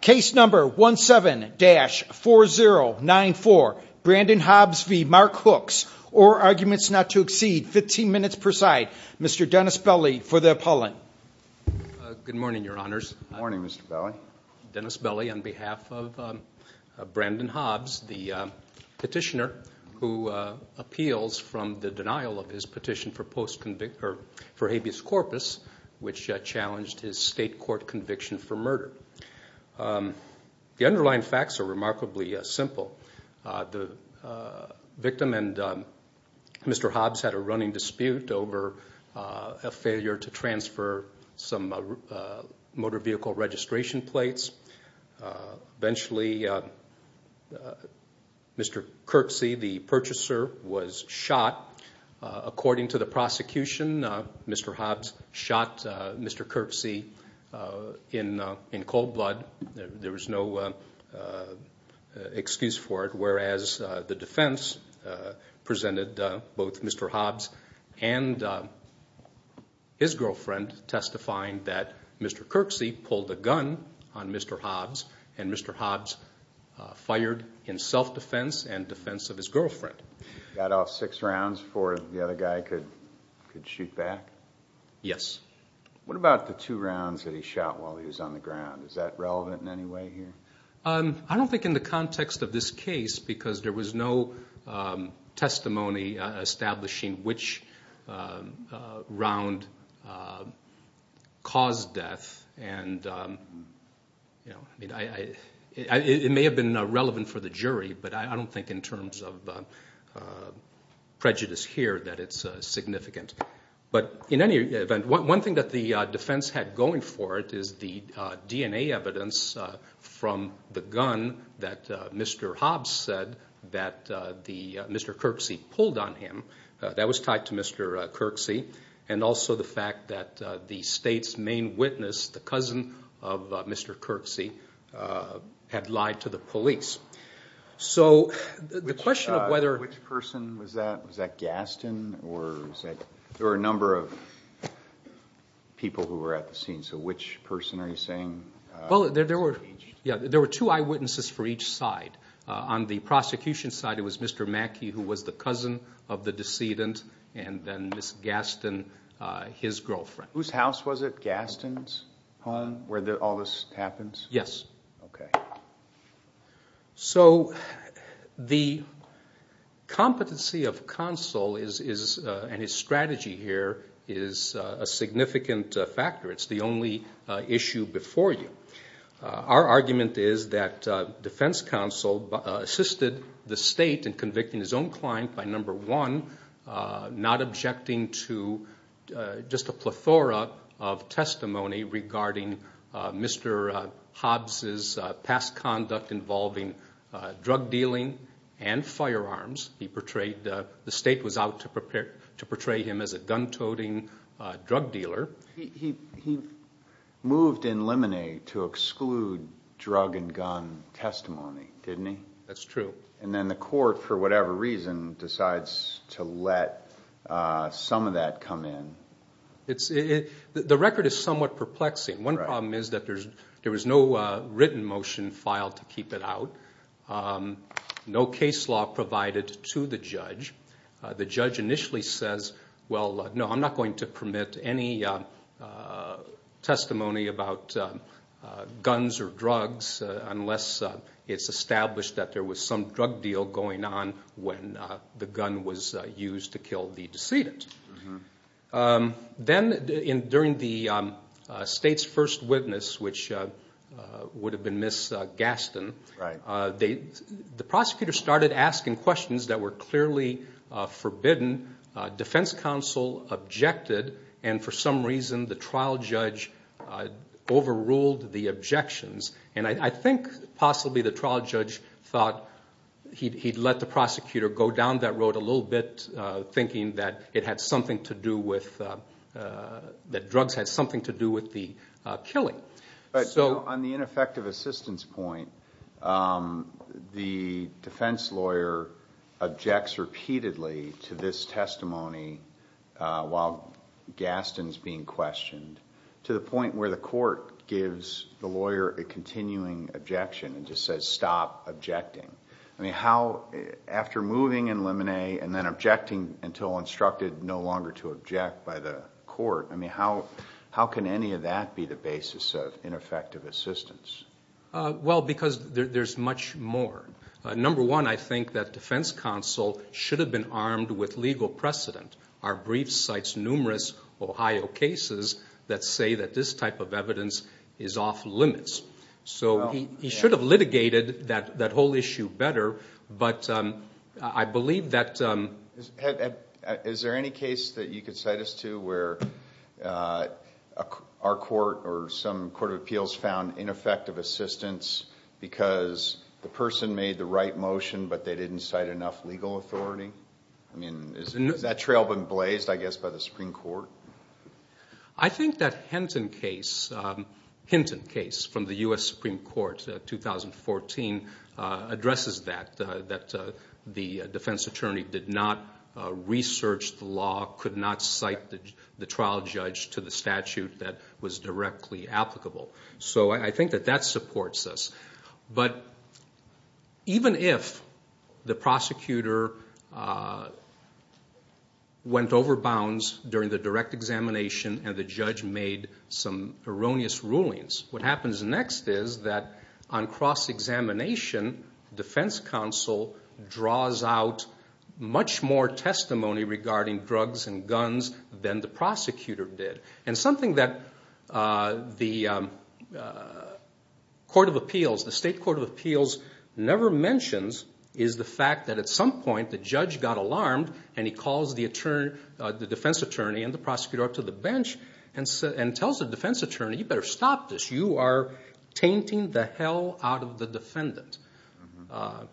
Case number 17-4094. Brandon Hobbs v. Mark Hooks. All arguments not to exceed 15 minutes per side. Mr. Dennis Belli for the appellant. Good morning, your honors. Good morning, Mr. Belli. Dennis Belli on behalf of Brandon Hobbs, the petitioner who appeals from the denial of his petition for habeas corpus, which challenged his state court conviction for murder. The underlying facts are remarkably simple. The victim and Mr. Hobbs had a running dispute over a failure to transfer some motor vehicle registration plates. Eventually, Mr. Kirksey, the purchaser, was shot. According to the prosecution, Mr. Hobbs shot Mr. Kirksey in cold blood. There was no excuse for it, whereas the defense presented both Mr. Hobbs and his girlfriend testifying that Mr. Kirksey pulled a gun on Mr. Hobbs and Mr. Hobbs fired in self-defense and defense of his girlfriend. He got off six rounds before the other guy could shoot back? Yes. What about the two rounds that he shot while he was on the ground? Is that relevant in any way here? I don't think in the context of this case because there was no testimony establishing which round caused death. It may have been relevant for the jury, but I don't think in terms of prejudice here that it's significant. One thing that the defense had going for it is the DNA evidence from the gun that Mr. Hobbs said that Mr. Kirksey pulled on him. That was tied to Mr. Kirksey and also the fact that the state's main witness, the cousin of Mr. Kirksey, had lied to the police. Which person was that? Was that Gaston? There were a number of people who were at the scene, so which person are you saying was engaged? There were two eyewitnesses for each side. On the prosecution side, it was Mr. Mackey, who was the cousin of the decedent, and then Ms. Gaston, his girlfriend. Whose house was it? Gaston's home, where all this happens? Yes. So the competency of counsel and his strategy here is a significant factor. It's the only issue before you. Our argument is that defense counsel assisted the state in convicting his own client by, number one, not objecting to just a plethora of testimony regarding Mr. Hobbs' past conduct involving drug dealing and firearms. The state was out to portray him as a gun-toting drug dealer. He moved in limine to exclude drug and gun testimony, didn't he? That's true. And then the court, for whatever reason, decides to let some of that come in. The record is somewhat perplexing. One problem is that there was no written motion filed to keep it out, no case law provided to the judge. The judge initially says, well, no, I'm not going to permit any testimony about guns or drugs unless it's established that there was some drug deal going on when the gun was used to kill the decedent. Then during the state's first witness, which would have been Ms. Gaston, the prosecutor started asking questions that were clearly forbidden. Defense counsel objected, and for some reason the trial judge overruled the objections. I think possibly the trial judge thought he'd let the prosecutor go down that road a little bit, thinking that drugs had something to do with the killing. On the ineffective assistance point, the defense lawyer objects repeatedly to this testimony while Gaston's being questioned, to the point where the court gives the lawyer a continuing objection and just says, stop objecting. After moving in limine and then objecting until instructed no longer to object by the court, how can any of that be the basis of ineffective assistance? Well, because there's much more. Number one, I think that defense counsel should have been armed with legal precedent. Our brief cites numerous Ohio cases that say that this type of evidence is off limits. He should have litigated that whole issue better, but I believe that... I think that Hinton case from the U.S. Supreme Court, 2014, addresses that, that the defense attorney did not research the law, could not cite the trial judge to the statute that was directly applicable. I think that that supports us, but even if the prosecutor went overbounds during the direct examination and the judge made some erroneous rulings, what happens next is that on cross-examination, defense counsel draws out much more testimony regarding drugs and guns than the prosecutor did. Something that the court of appeals, the state court of appeals, never mentions is the fact that at some point the judge got alarmed and he calls the defense attorney and the prosecutor up to the bench and tells the defense attorney, you better stop this. You are tainting the hell out of the defendant.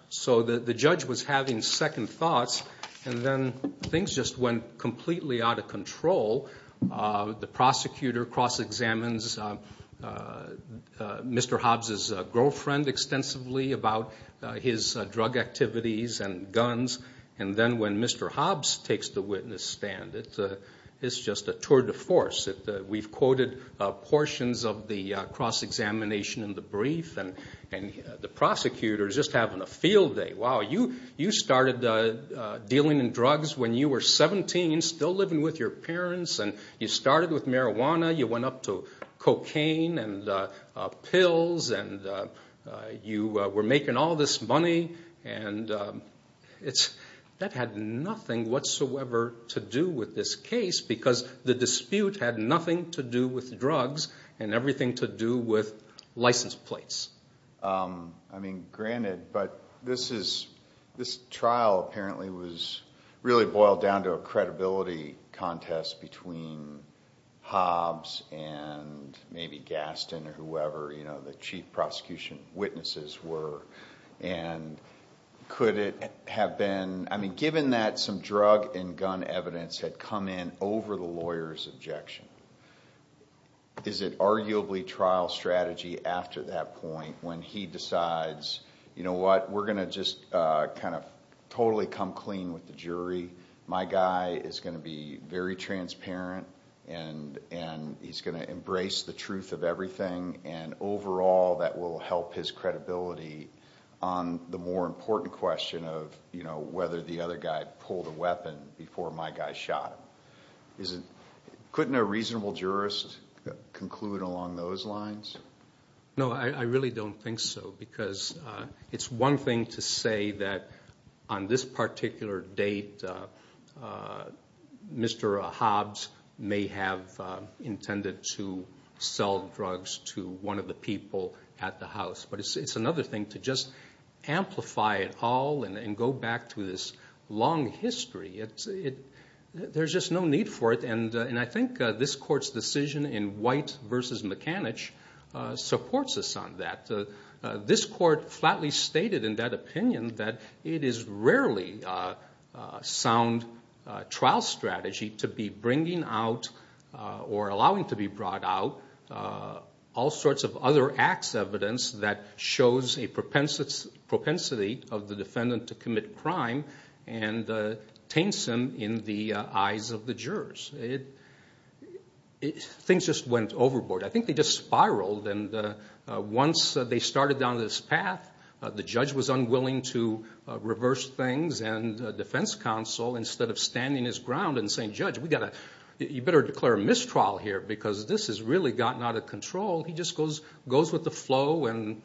So the judge was having second thoughts, and then things just went completely out of control. The prosecutor cross-examines Mr. Hobbs' girlfriend extensively about his drug activities and guns, and then when Mr. Hobbs takes the witness stand, it's just a tour de force. We've quoted portions of the cross-examination in the brief, and the prosecutor is just having a field day. Wow, you started dealing in drugs when you were 17, still living with your parents, and you started with marijuana, you went up to cocaine and pills, and you were making all this money. That had nothing whatsoever to do with this case because the dispute had nothing to do with drugs and everything to do with license plates. Granted, but this trial apparently was really boiled down to a credibility contest between Hobbs and maybe Gaston or whoever the chief prosecution witnesses were. Given that some drug and gun evidence had come in over the lawyer's objection, is it arguably trial strategy after that point when he decides, you know what, we're going to just kind of totally come clean with the jury, my guy is going to be very transparent, and he's going to embrace the truth of everything, and overall that will help his credibility on the more important question of whether the other guy pulled a weapon before my guy shot him. Couldn't a reasonable jurist conclude along those lines? No, I really don't think so because it's one thing to say that on this particular date Mr. Hobbs may have intended to sell drugs to one of the people at the house, but it's another thing to just amplify it all and go back to this long history. There's just no need for it, and I think this court's decision in White v. McAnich supports us on that. This court flatly stated in that opinion that it is rarely a sound trial strategy to be bringing out or allowing to be brought out all sorts of other acts of evidence that shows a propensity of the defendant to commit crime and taints him in the eyes of the jurors. Things just went overboard. I think they just spiraled, and once they started down this path, the judge was unwilling to reverse things, and the defense counsel, instead of standing his ground and saying, judge, you better declare a mistrial here because this has really gotten out of control, he just goes with the flow and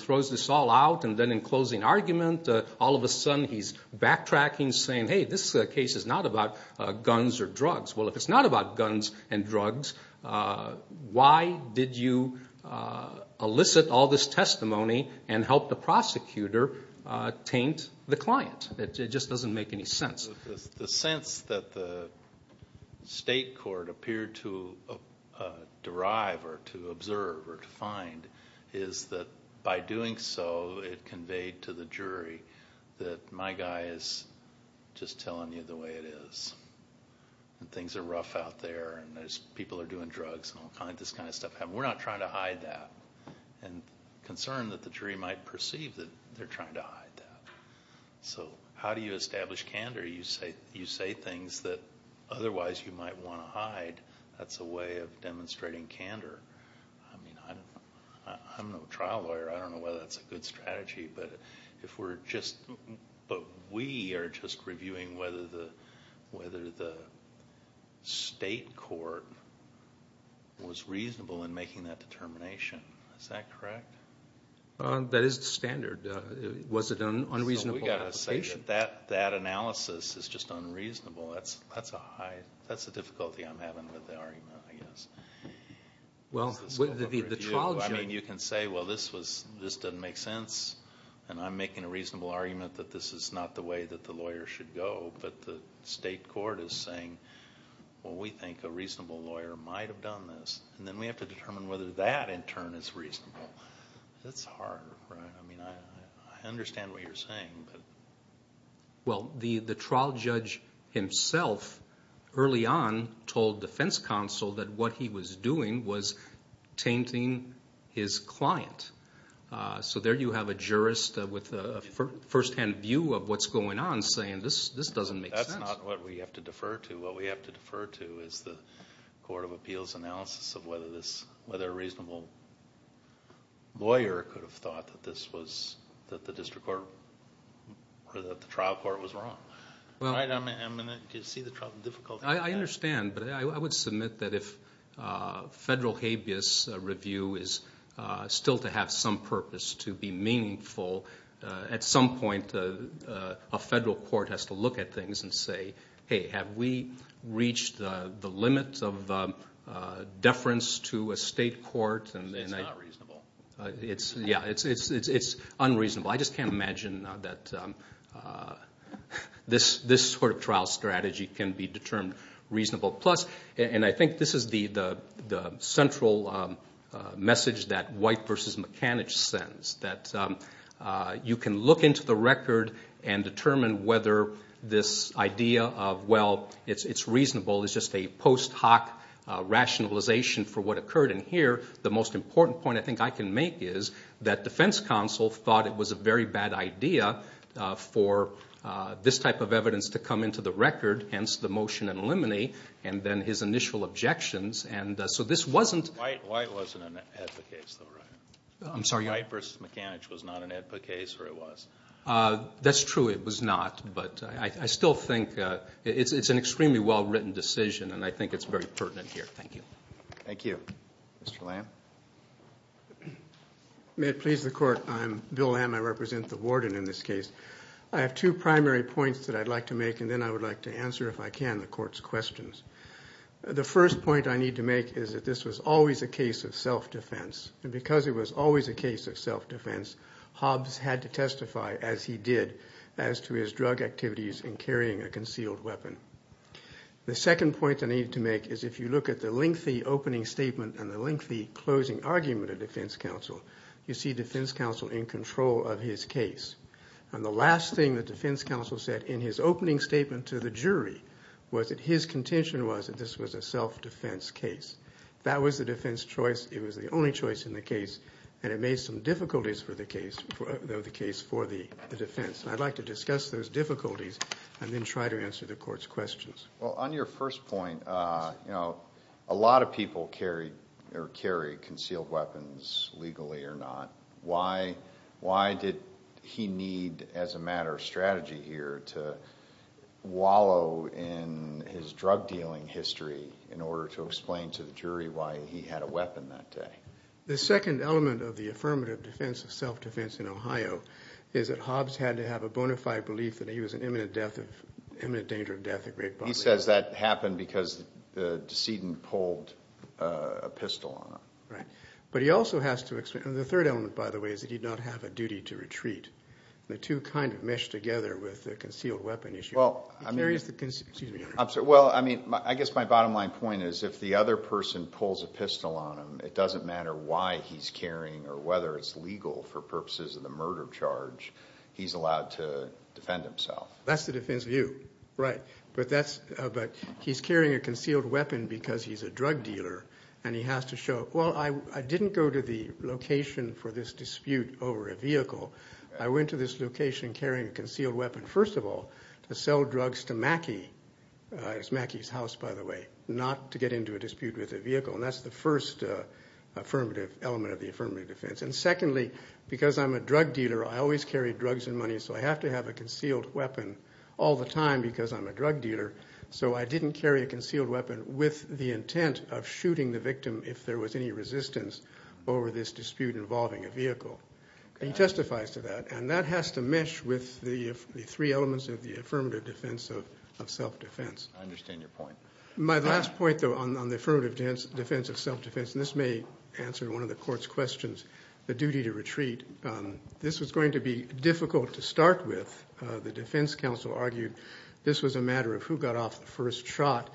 throws this all out. And then in closing argument, all of a sudden he's backtracking saying, hey, this case is not about guns or drugs. Well, if it's not about guns and drugs, why did you elicit all this testimony and help the prosecutor taint the client? The sense that the state court appeared to derive or to observe or to find is that by doing so, it conveyed to the jury that my guy is just telling you the way it is, and things are rough out there and people are doing drugs and all this kind of stuff. We're not trying to hide that, and concerned that the jury might perceive that they're trying to hide that. So how do you establish candor? You say things that otherwise you might want to hide. That's a way of demonstrating candor. I mean, I'm no trial lawyer. I don't know whether that's a good strategy, but we are just reviewing whether the state court was reasonable in making that determination. Is that correct? That is the standard. Was it an unreasonable application? We've got to say that that analysis is just unreasonable. That's a difficulty I'm having with the argument, I guess. Well, the trial jury. I mean, you can say, well, this doesn't make sense, and I'm making a reasonable argument that this is not the way that the lawyer should go, but the state court is saying, well, we think a reasonable lawyer might have done this, and then we have to determine whether that, in turn, is reasonable. That's hard, right? I mean, I understand what you're saying. Well, the trial judge himself early on told defense counsel that what he was doing was tainting his client. So there you have a jurist with a firsthand view of what's going on saying, this doesn't make sense. That's not what we have to defer to. What we have to defer to is the Court of Appeals analysis of whether a reasonable lawyer could have thought that this was the district court or that the trial court was wrong. Do you see the difficulty? I understand, but I would submit that if federal habeas review is still to have some purpose to be meaningful, at some point a federal court has to look at things and say, hey, have we reached the limit of deference to a state court? It's not reasonable. Yeah, it's unreasonable. I just can't imagine that this sort of trial strategy can be determined reasonable. And I think this is the central message that White v. McAnich sends, that you can look into the record and determine whether this idea of, well, it's reasonable is just a post hoc rationalization for what occurred in here. The most important point I think I can make is that defense counsel thought it was a very bad idea for this type of evidence to come into the record, hence the motion in limine, and then his initial objections. So this wasn't. White wasn't an AEDPA case, though, right? I'm sorry? White v. McAnich was not an AEDPA case, or it was? That's true, it was not. But I still think it's an extremely well-written decision, and I think it's very pertinent here. Thank you. Thank you. Mr. Lamb? May it please the Court, I'm Bill Lamb. I represent the warden in this case. I have two primary points that I'd like to make, and then I would like to answer, if I can, the Court's questions. The first point I need to make is that this was always a case of self-defense, and because it was always a case of self-defense, Hobbs had to testify, as he did, as to his drug activities in carrying a concealed weapon. The second point I need to make is if you look at the lengthy opening statement and the lengthy closing argument of defense counsel, you see defense counsel in control of his case. And the last thing that defense counsel said in his opening statement to the jury was that his contention was that this was a self-defense case. That was the defense choice. It was the only choice in the case, and it made some difficulties for the case for the defense. And I'd like to discuss those difficulties and then try to answer the Court's questions. Well, on your first point, a lot of people carry concealed weapons, legally or not. Why did he need, as a matter of strategy here, to wallow in his drug-dealing history in order to explain to the jury why he had a weapon that day? The second element of the affirmative defense of self-defense in Ohio is that Hobbs had to have a bona fide belief that he was in imminent danger of death at Great Boston. He says that happened because the decedent pulled a pistol on him. But he also has to explain, and the third element, by the way, is that he did not have a duty to retreat. The two kind of mesh together with the concealed weapon issue. Well, I mean, I guess my bottom line point is if the other person pulls a pistol on him, it doesn't matter why he's carrying or whether it's legal for purposes of the murder charge, he's allowed to defend himself. That's the defense view, right. But he's carrying a concealed weapon because he's a drug dealer, and he has to show, well, I didn't go to the location for this dispute over a vehicle. I went to this location carrying a concealed weapon, first of all, to sell drugs to Mackey. It was Mackey's house, by the way, not to get into a dispute with a vehicle. And that's the first affirmative element of the affirmative defense. And secondly, because I'm a drug dealer, I always carry drugs and money, so I have to have a concealed weapon all the time because I'm a drug dealer. So I didn't carry a concealed weapon with the intent of shooting the victim if there was any resistance over this dispute involving a vehicle. He testifies to that, and that has to mesh with the three elements of the affirmative defense of self-defense. I understand your point. My last point, though, on the affirmative defense of self-defense, and this may answer one of the Court's questions, the duty to retreat. This was going to be difficult to start with. The defense counsel argued this was a matter of who got off the first shot.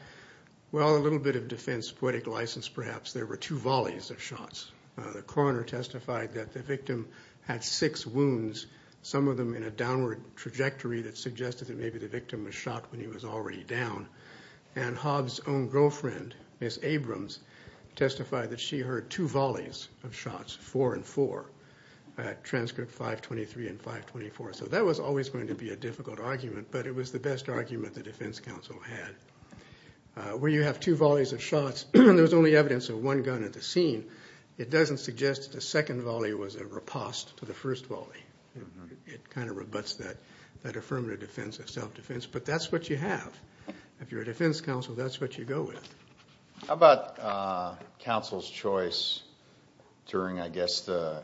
Well, a little bit of defense poetic license perhaps. There were two volleys of shots. The coroner testified that the victim had six wounds, some of them in a downward trajectory that suggested that maybe the victim was shot when he was already down. And Hobbs' own girlfriend, Miss Abrams, testified that she heard two volleys of shots, four and four, at transcript 523 and 524. So that was always going to be a difficult argument, but it was the best argument the defense counsel had. Where you have two volleys of shots, there was only evidence of one gun at the scene. It doesn't suggest the second volley was a riposte to the first volley. It kind of rebutts that affirmative defense of self-defense. But that's what you have. If you're a defense counsel, that's what you go with. How about counsel's choice during, I guess, the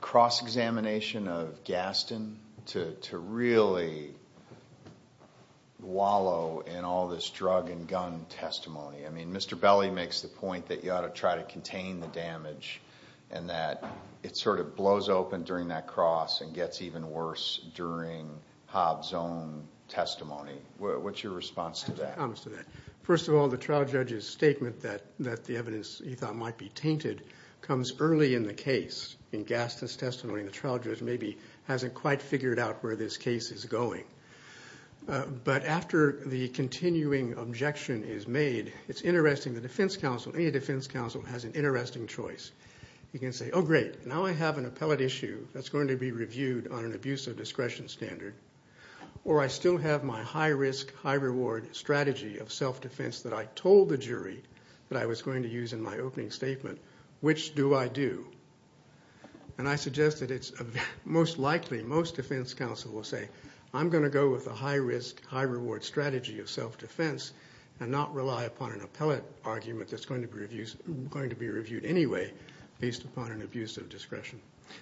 cross-examination of Gaston to really wallow in all this drug and gun testimony? I mean, Mr. Belli makes the point that you ought to try to contain the damage and that it sort of blows open during that cross and gets even worse during Hobbs' own testimony. What's your response to that? First of all, the trial judge's statement that the evidence he thought might be tainted comes early in the case. In Gaston's testimony, the trial judge maybe hasn't quite figured out where this case is going. But after the continuing objection is made, it's interesting. The defense counsel, any defense counsel, has an interesting choice. You can say, oh, great, now I have an appellate issue that's going to be reviewed on an abusive discretion standard, or I still have my high-risk, high-reward strategy of self-defense that I told the jury that I was going to use in my opening statement. Which do I do? And I suggest that it's most likely most defense counsel will say, I'm going to go with a high-risk, high-reward strategy of self-defense and not rely upon an appellate argument that's going to be reviewed anyway based upon an abusive discretion.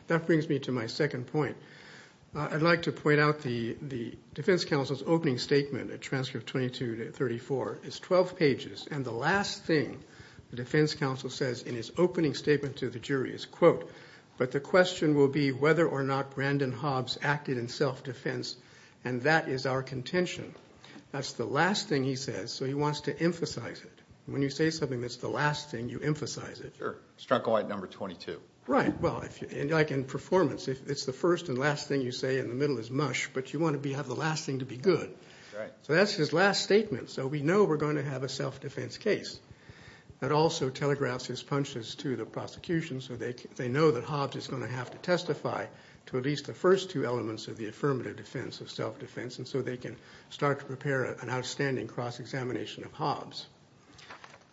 That brings me to my second point. I'd like to point out the defense counsel's opening statement at transcript 22-34. It's 12 pages, and the last thing the defense counsel says in his opening statement to the jury is, quote, but the question will be whether or not Brandon Hobbs acted in self-defense, and that is our contention. That's the last thing he says, so he wants to emphasize it. When you say something that's the last thing, you emphasize it. Sure. Strunk away at number 22. Right. Well, like in performance, it's the first and last thing you say, and the middle is mush, but you want to have the last thing to be good. Right. So that's his last statement, so we know we're going to have a self-defense case. That also telegraphs his punches to the prosecution so they know that Hobbs is going to have to testify to at least the first two elements of the affirmative defense of self-defense, and so they can start to prepare an outstanding cross-examination of Hobbs.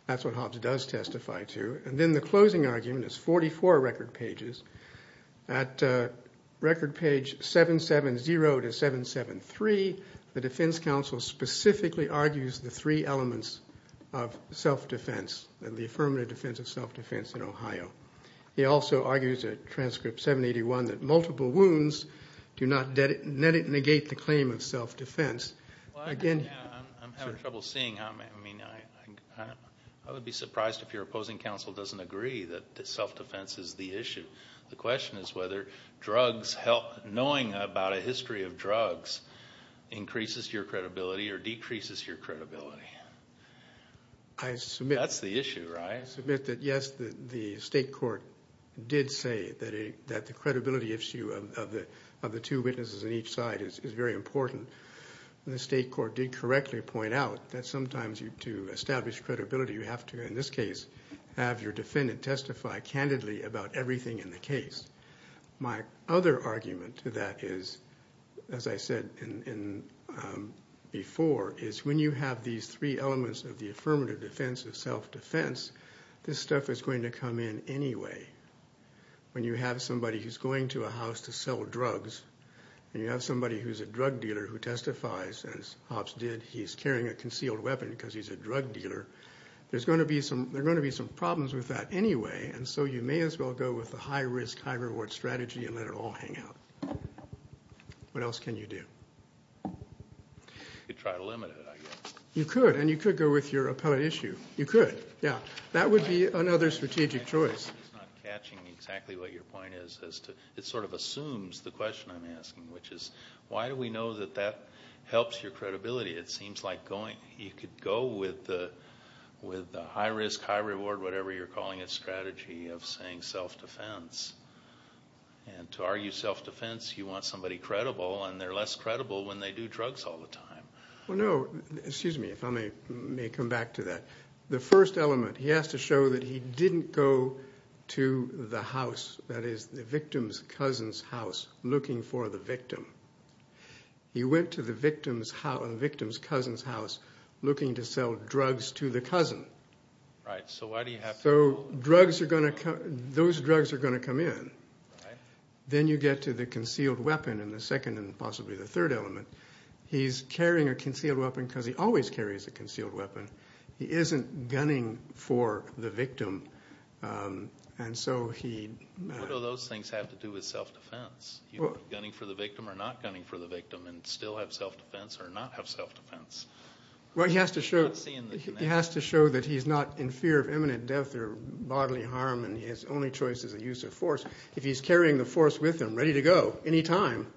That's what Hobbs does testify to. And then the closing argument is 44 record pages. At record page 770-773, the defense counsel specifically argues the three elements of self-defense, He also argues at transcript 781 that multiple wounds do not negate the claim of self-defense. Well, I'm having trouble seeing. I mean, I would be surprised if your opposing counsel doesn't agree that self-defense is the issue. The question is whether drugs help. Knowing about a history of drugs increases your credibility or decreases your credibility. I submit. That's the issue, right? I submit that, yes, the state court did say that the credibility issue of the two witnesses on each side is very important. The state court did correctly point out that sometimes to establish credibility, you have to, in this case, have your defendant testify candidly about everything in the case. My other argument to that is, as I said before, is when you have these three elements of the affirmative defense of self-defense, this stuff is going to come in anyway. When you have somebody who's going to a house to sell drugs, and you have somebody who's a drug dealer who testifies, as Hobbs did, he's carrying a concealed weapon because he's a drug dealer, there's going to be some problems with that anyway, and so you may as well go with a high-risk, high-reward strategy and let it all hang out. What else can you do? You could try to limit it, I guess. You could, and you could go with your appellate issue. You could, yeah. That would be another strategic choice. I'm just not catching exactly what your point is. It sort of assumes the question I'm asking, which is why do we know that that helps your credibility? It seems like you could go with the high-risk, high-reward, whatever you're calling it, strategy of saying self-defense. And to argue self-defense, you want somebody credible, and they're less credible when they do drugs all the time. Well, no, excuse me if I may come back to that. The first element, he has to show that he didn't go to the house, that is, the victim's cousin's house, looking for the victim. He went to the victim's cousin's house looking to sell drugs to the cousin. Right, so why do you have to do that? So those drugs are going to come in. Then you get to the concealed weapon in the second and possibly the third element. He's carrying a concealed weapon because he always carries a concealed weapon. He isn't gunning for the victim. What do those things have to do with self-defense? Gunning for the victim or not gunning for the victim and still have self-defense or not have self-defense? Well, he has to show that he's not in fear of imminent death or bodily harm and his only choice is a use of force. If he's carrying the force with him, ready to go, any time.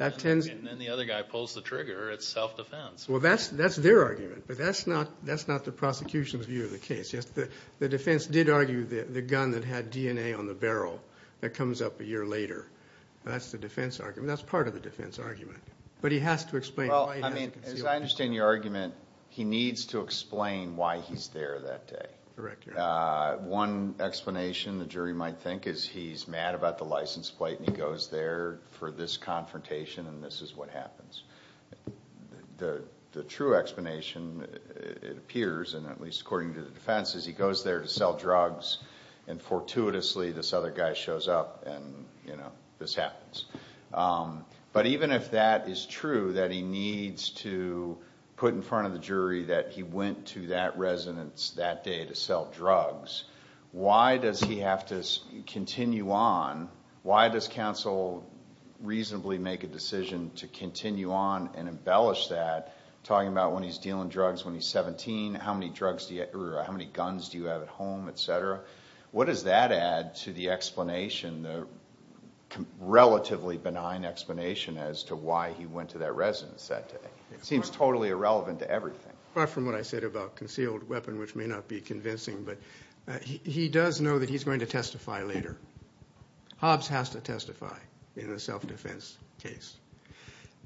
And then the other guy pulls the trigger. It's self-defense. Well, that's their argument, but that's not the prosecution's view of the case. The defense did argue the gun that had DNA on the barrel that comes up a year later. That's the defense argument. That's part of the defense argument. But he has to explain why he has a concealed weapon. As I understand your argument, he needs to explain why he's there that day. One explanation the jury might think is he's mad about the license plate and he goes there for this confrontation and this is what happens. The true explanation, it appears, and at least according to the defense, is he goes there to sell drugs and fortuitously this other guy shows up and this happens. But even if that is true, that he needs to put in front of the jury that he went to that residence that day to sell drugs, why does he have to continue on? Why does counsel reasonably make a decision to continue on and embellish that, talking about when he's dealing drugs when he's 17, how many guns do you have at home, et cetera? What does that add to the explanation, the relatively benign explanation as to why he went to that residence that day? It seems totally irrelevant to everything. Far from what I said about concealed weapon, which may not be convincing, but he does know that he's going to testify later. Hobbs has to testify in a self-defense case.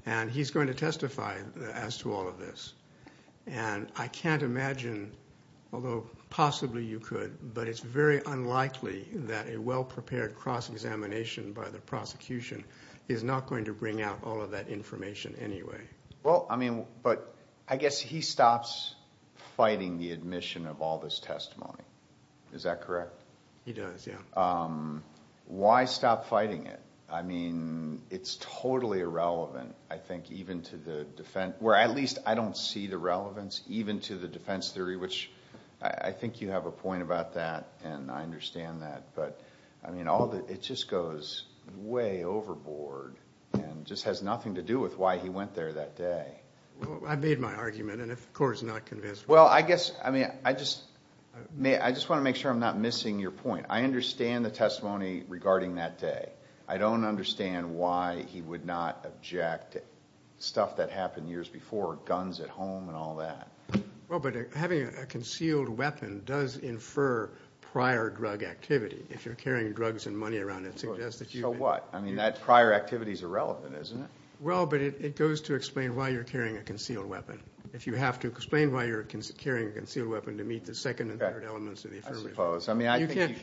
And he's going to testify as to all of this. And I can't imagine, although possibly you could, but it's very unlikely that a well-prepared cross-examination by the prosecution is not going to bring out all of that information anyway. Well, I mean, but I guess he stops fighting the admission of all this testimony. Is that correct? He does, yeah. Why stop fighting it? I mean, it's totally irrelevant, I think, even to the defense, or at least I don't see the relevance even to the defense theory, which I think you have a point about that, and I understand that. But, I mean, it just goes way overboard and just has nothing to do with why he went there that day. I made my argument, and of course it's not convincing. Well, I guess, I mean, I just want to make sure I'm not missing your point. I understand the testimony regarding that day. I don't understand why he would not object to stuff that happened years before, guns at home and all that. Well, but having a concealed weapon does infer prior drug activity. If you're carrying drugs and money around, it suggests that you've been. So what? I mean, that prior activity is irrelevant, isn't it? Well, but it goes to explain why you're carrying a concealed weapon. If you have to explain why you're carrying a concealed weapon to meet the second and third elements of the affirmative. I suppose.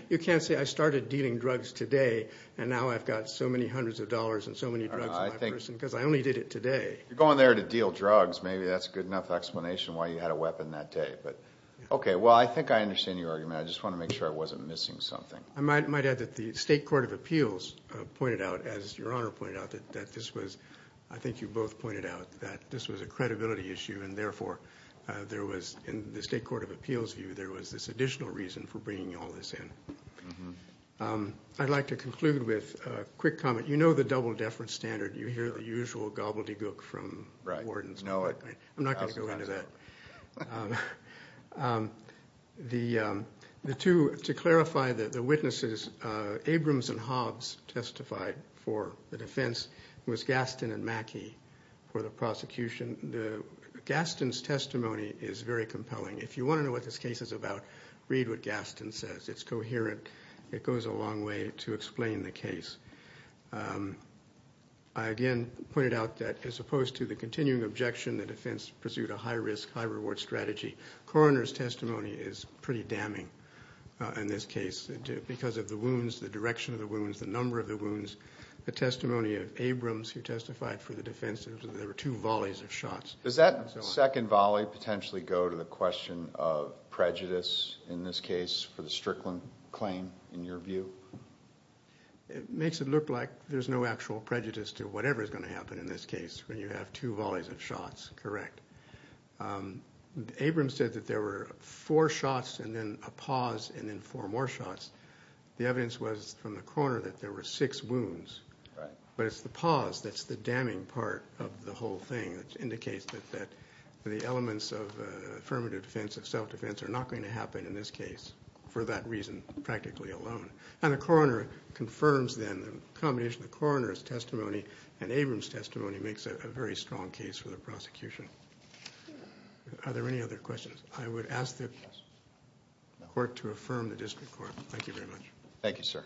You can't say I started dealing drugs today, and now I've got so many hundreds of dollars and so many drugs in my purse because I only did it today. If you're going there to deal drugs, maybe that's a good enough explanation why you had a weapon that day. But, okay, well, I think I understand your argument. I just want to make sure I wasn't missing something. I might add that the State Court of Appeals pointed out, as Your Honor pointed out, that this was, I think you both pointed out, that this was a credibility issue, and therefore there was, in the State Court of Appeals' view, there was this additional reason for bringing all this in. I'd like to conclude with a quick comment. You know the double-deference standard. You hear the usual gobbledygook from wardens. I'm not going to go into that. To clarify the witnesses, Abrams and Hobbs testified for the defense. It was Gaston and Mackey for the prosecution. Gaston's testimony is very compelling. If you want to know what this case is about, read what Gaston says. It goes a long way to explain the case. I, again, pointed out that as opposed to the continuing objection, the defense pursued a high-risk, high-reward strategy. Coroner's testimony is pretty damning in this case because of the wounds, the direction of the wounds, the number of the wounds. The testimony of Abrams, who testified for the defense, there were two volleys of shots. Does that second volley potentially go to the question of prejudice, in this case, for the Strickland claim, in your view? It makes it look like there's no actual prejudice to whatever is going to happen in this case when you have two volleys of shots. Correct. Abrams said that there were four shots and then a pause and then four more shots. The evidence was from the coroner that there were six wounds. Right. But it's the pause that's the damning part of the whole thing that indicates that the elements of affirmative defense, of self-defense, are not going to happen in this case for that reason practically alone. And the coroner confirms them. The combination of the coroner's testimony and Abrams' testimony makes it a very strong case for the prosecution. Are there any other questions? I would ask the court to affirm the district court. Thank you very much. Thank you, sir.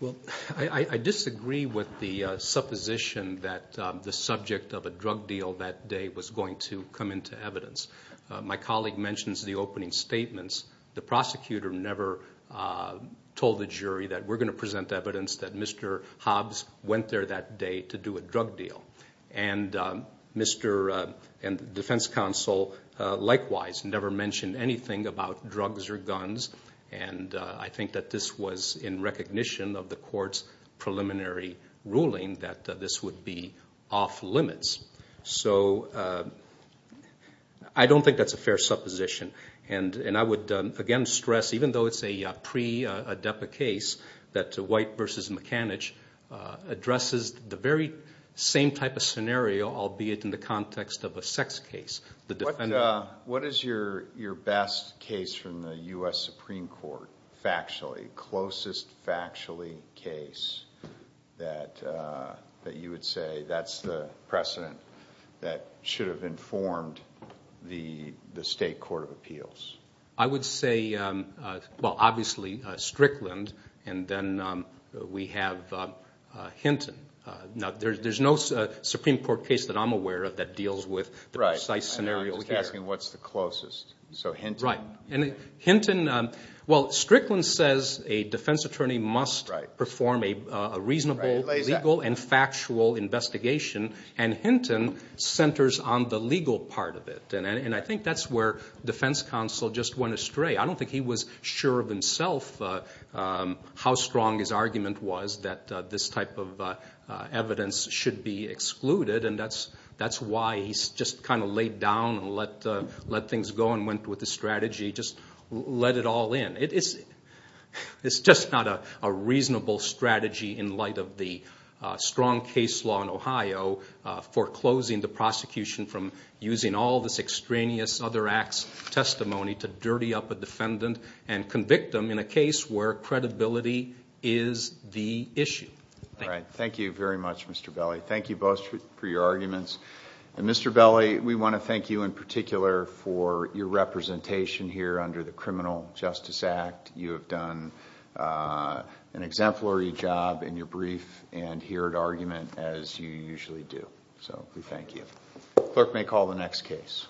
Well, I disagree with the supposition that the subject of a drug deal that day was going to come into evidence. My colleague mentions the opening statements. The prosecutor never told the jury that we're going to present evidence that Mr. Hobbs went there that day to do a drug deal. And the defense counsel likewise never mentioned anything about drugs or guns. And I think that this was in recognition of the court's preliminary ruling that this would be off limits. So I don't think that's a fair supposition. And I would again stress, even though it's a pre-Adepa case, that White v. McAnitch addresses the very same type of scenario, albeit in the context of a sex case. What is your best case from the U.S. Supreme Court, factually, closest factually case that you would say that's the precedent that should have informed the state court of appeals? I would say, well, obviously, Strickland, and then we have Hinton. Now, there's no Supreme Court case that I'm aware of that deals with the precise scenario here. Right, and I'm just asking what's the closest. So Hinton. Right. Well, Strickland says a defense attorney must perform a reasonable, legal, and factual investigation, and Hinton centers on the legal part of it. And I think that's where defense counsel just went astray. I don't think he was sure of himself how strong his argument was that this type of evidence should be excluded, and that's why he just kind of laid down and let things go and went with the strategy, just let it all in. It's just not a reasonable strategy in light of the strong case law in Ohio foreclosing the prosecution from using all this extraneous other acts testimony to dirty up a defendant and convict them in a case where credibility is the issue. All right. Thank you very much, Mr. Belli. Thank you both for your arguments. And Mr. Belli, we want to thank you in particular for your representation here under the Criminal Justice Act. You have done an exemplary job in your brief and here at argument as you usually do, so we thank you. Clerk may call the next case.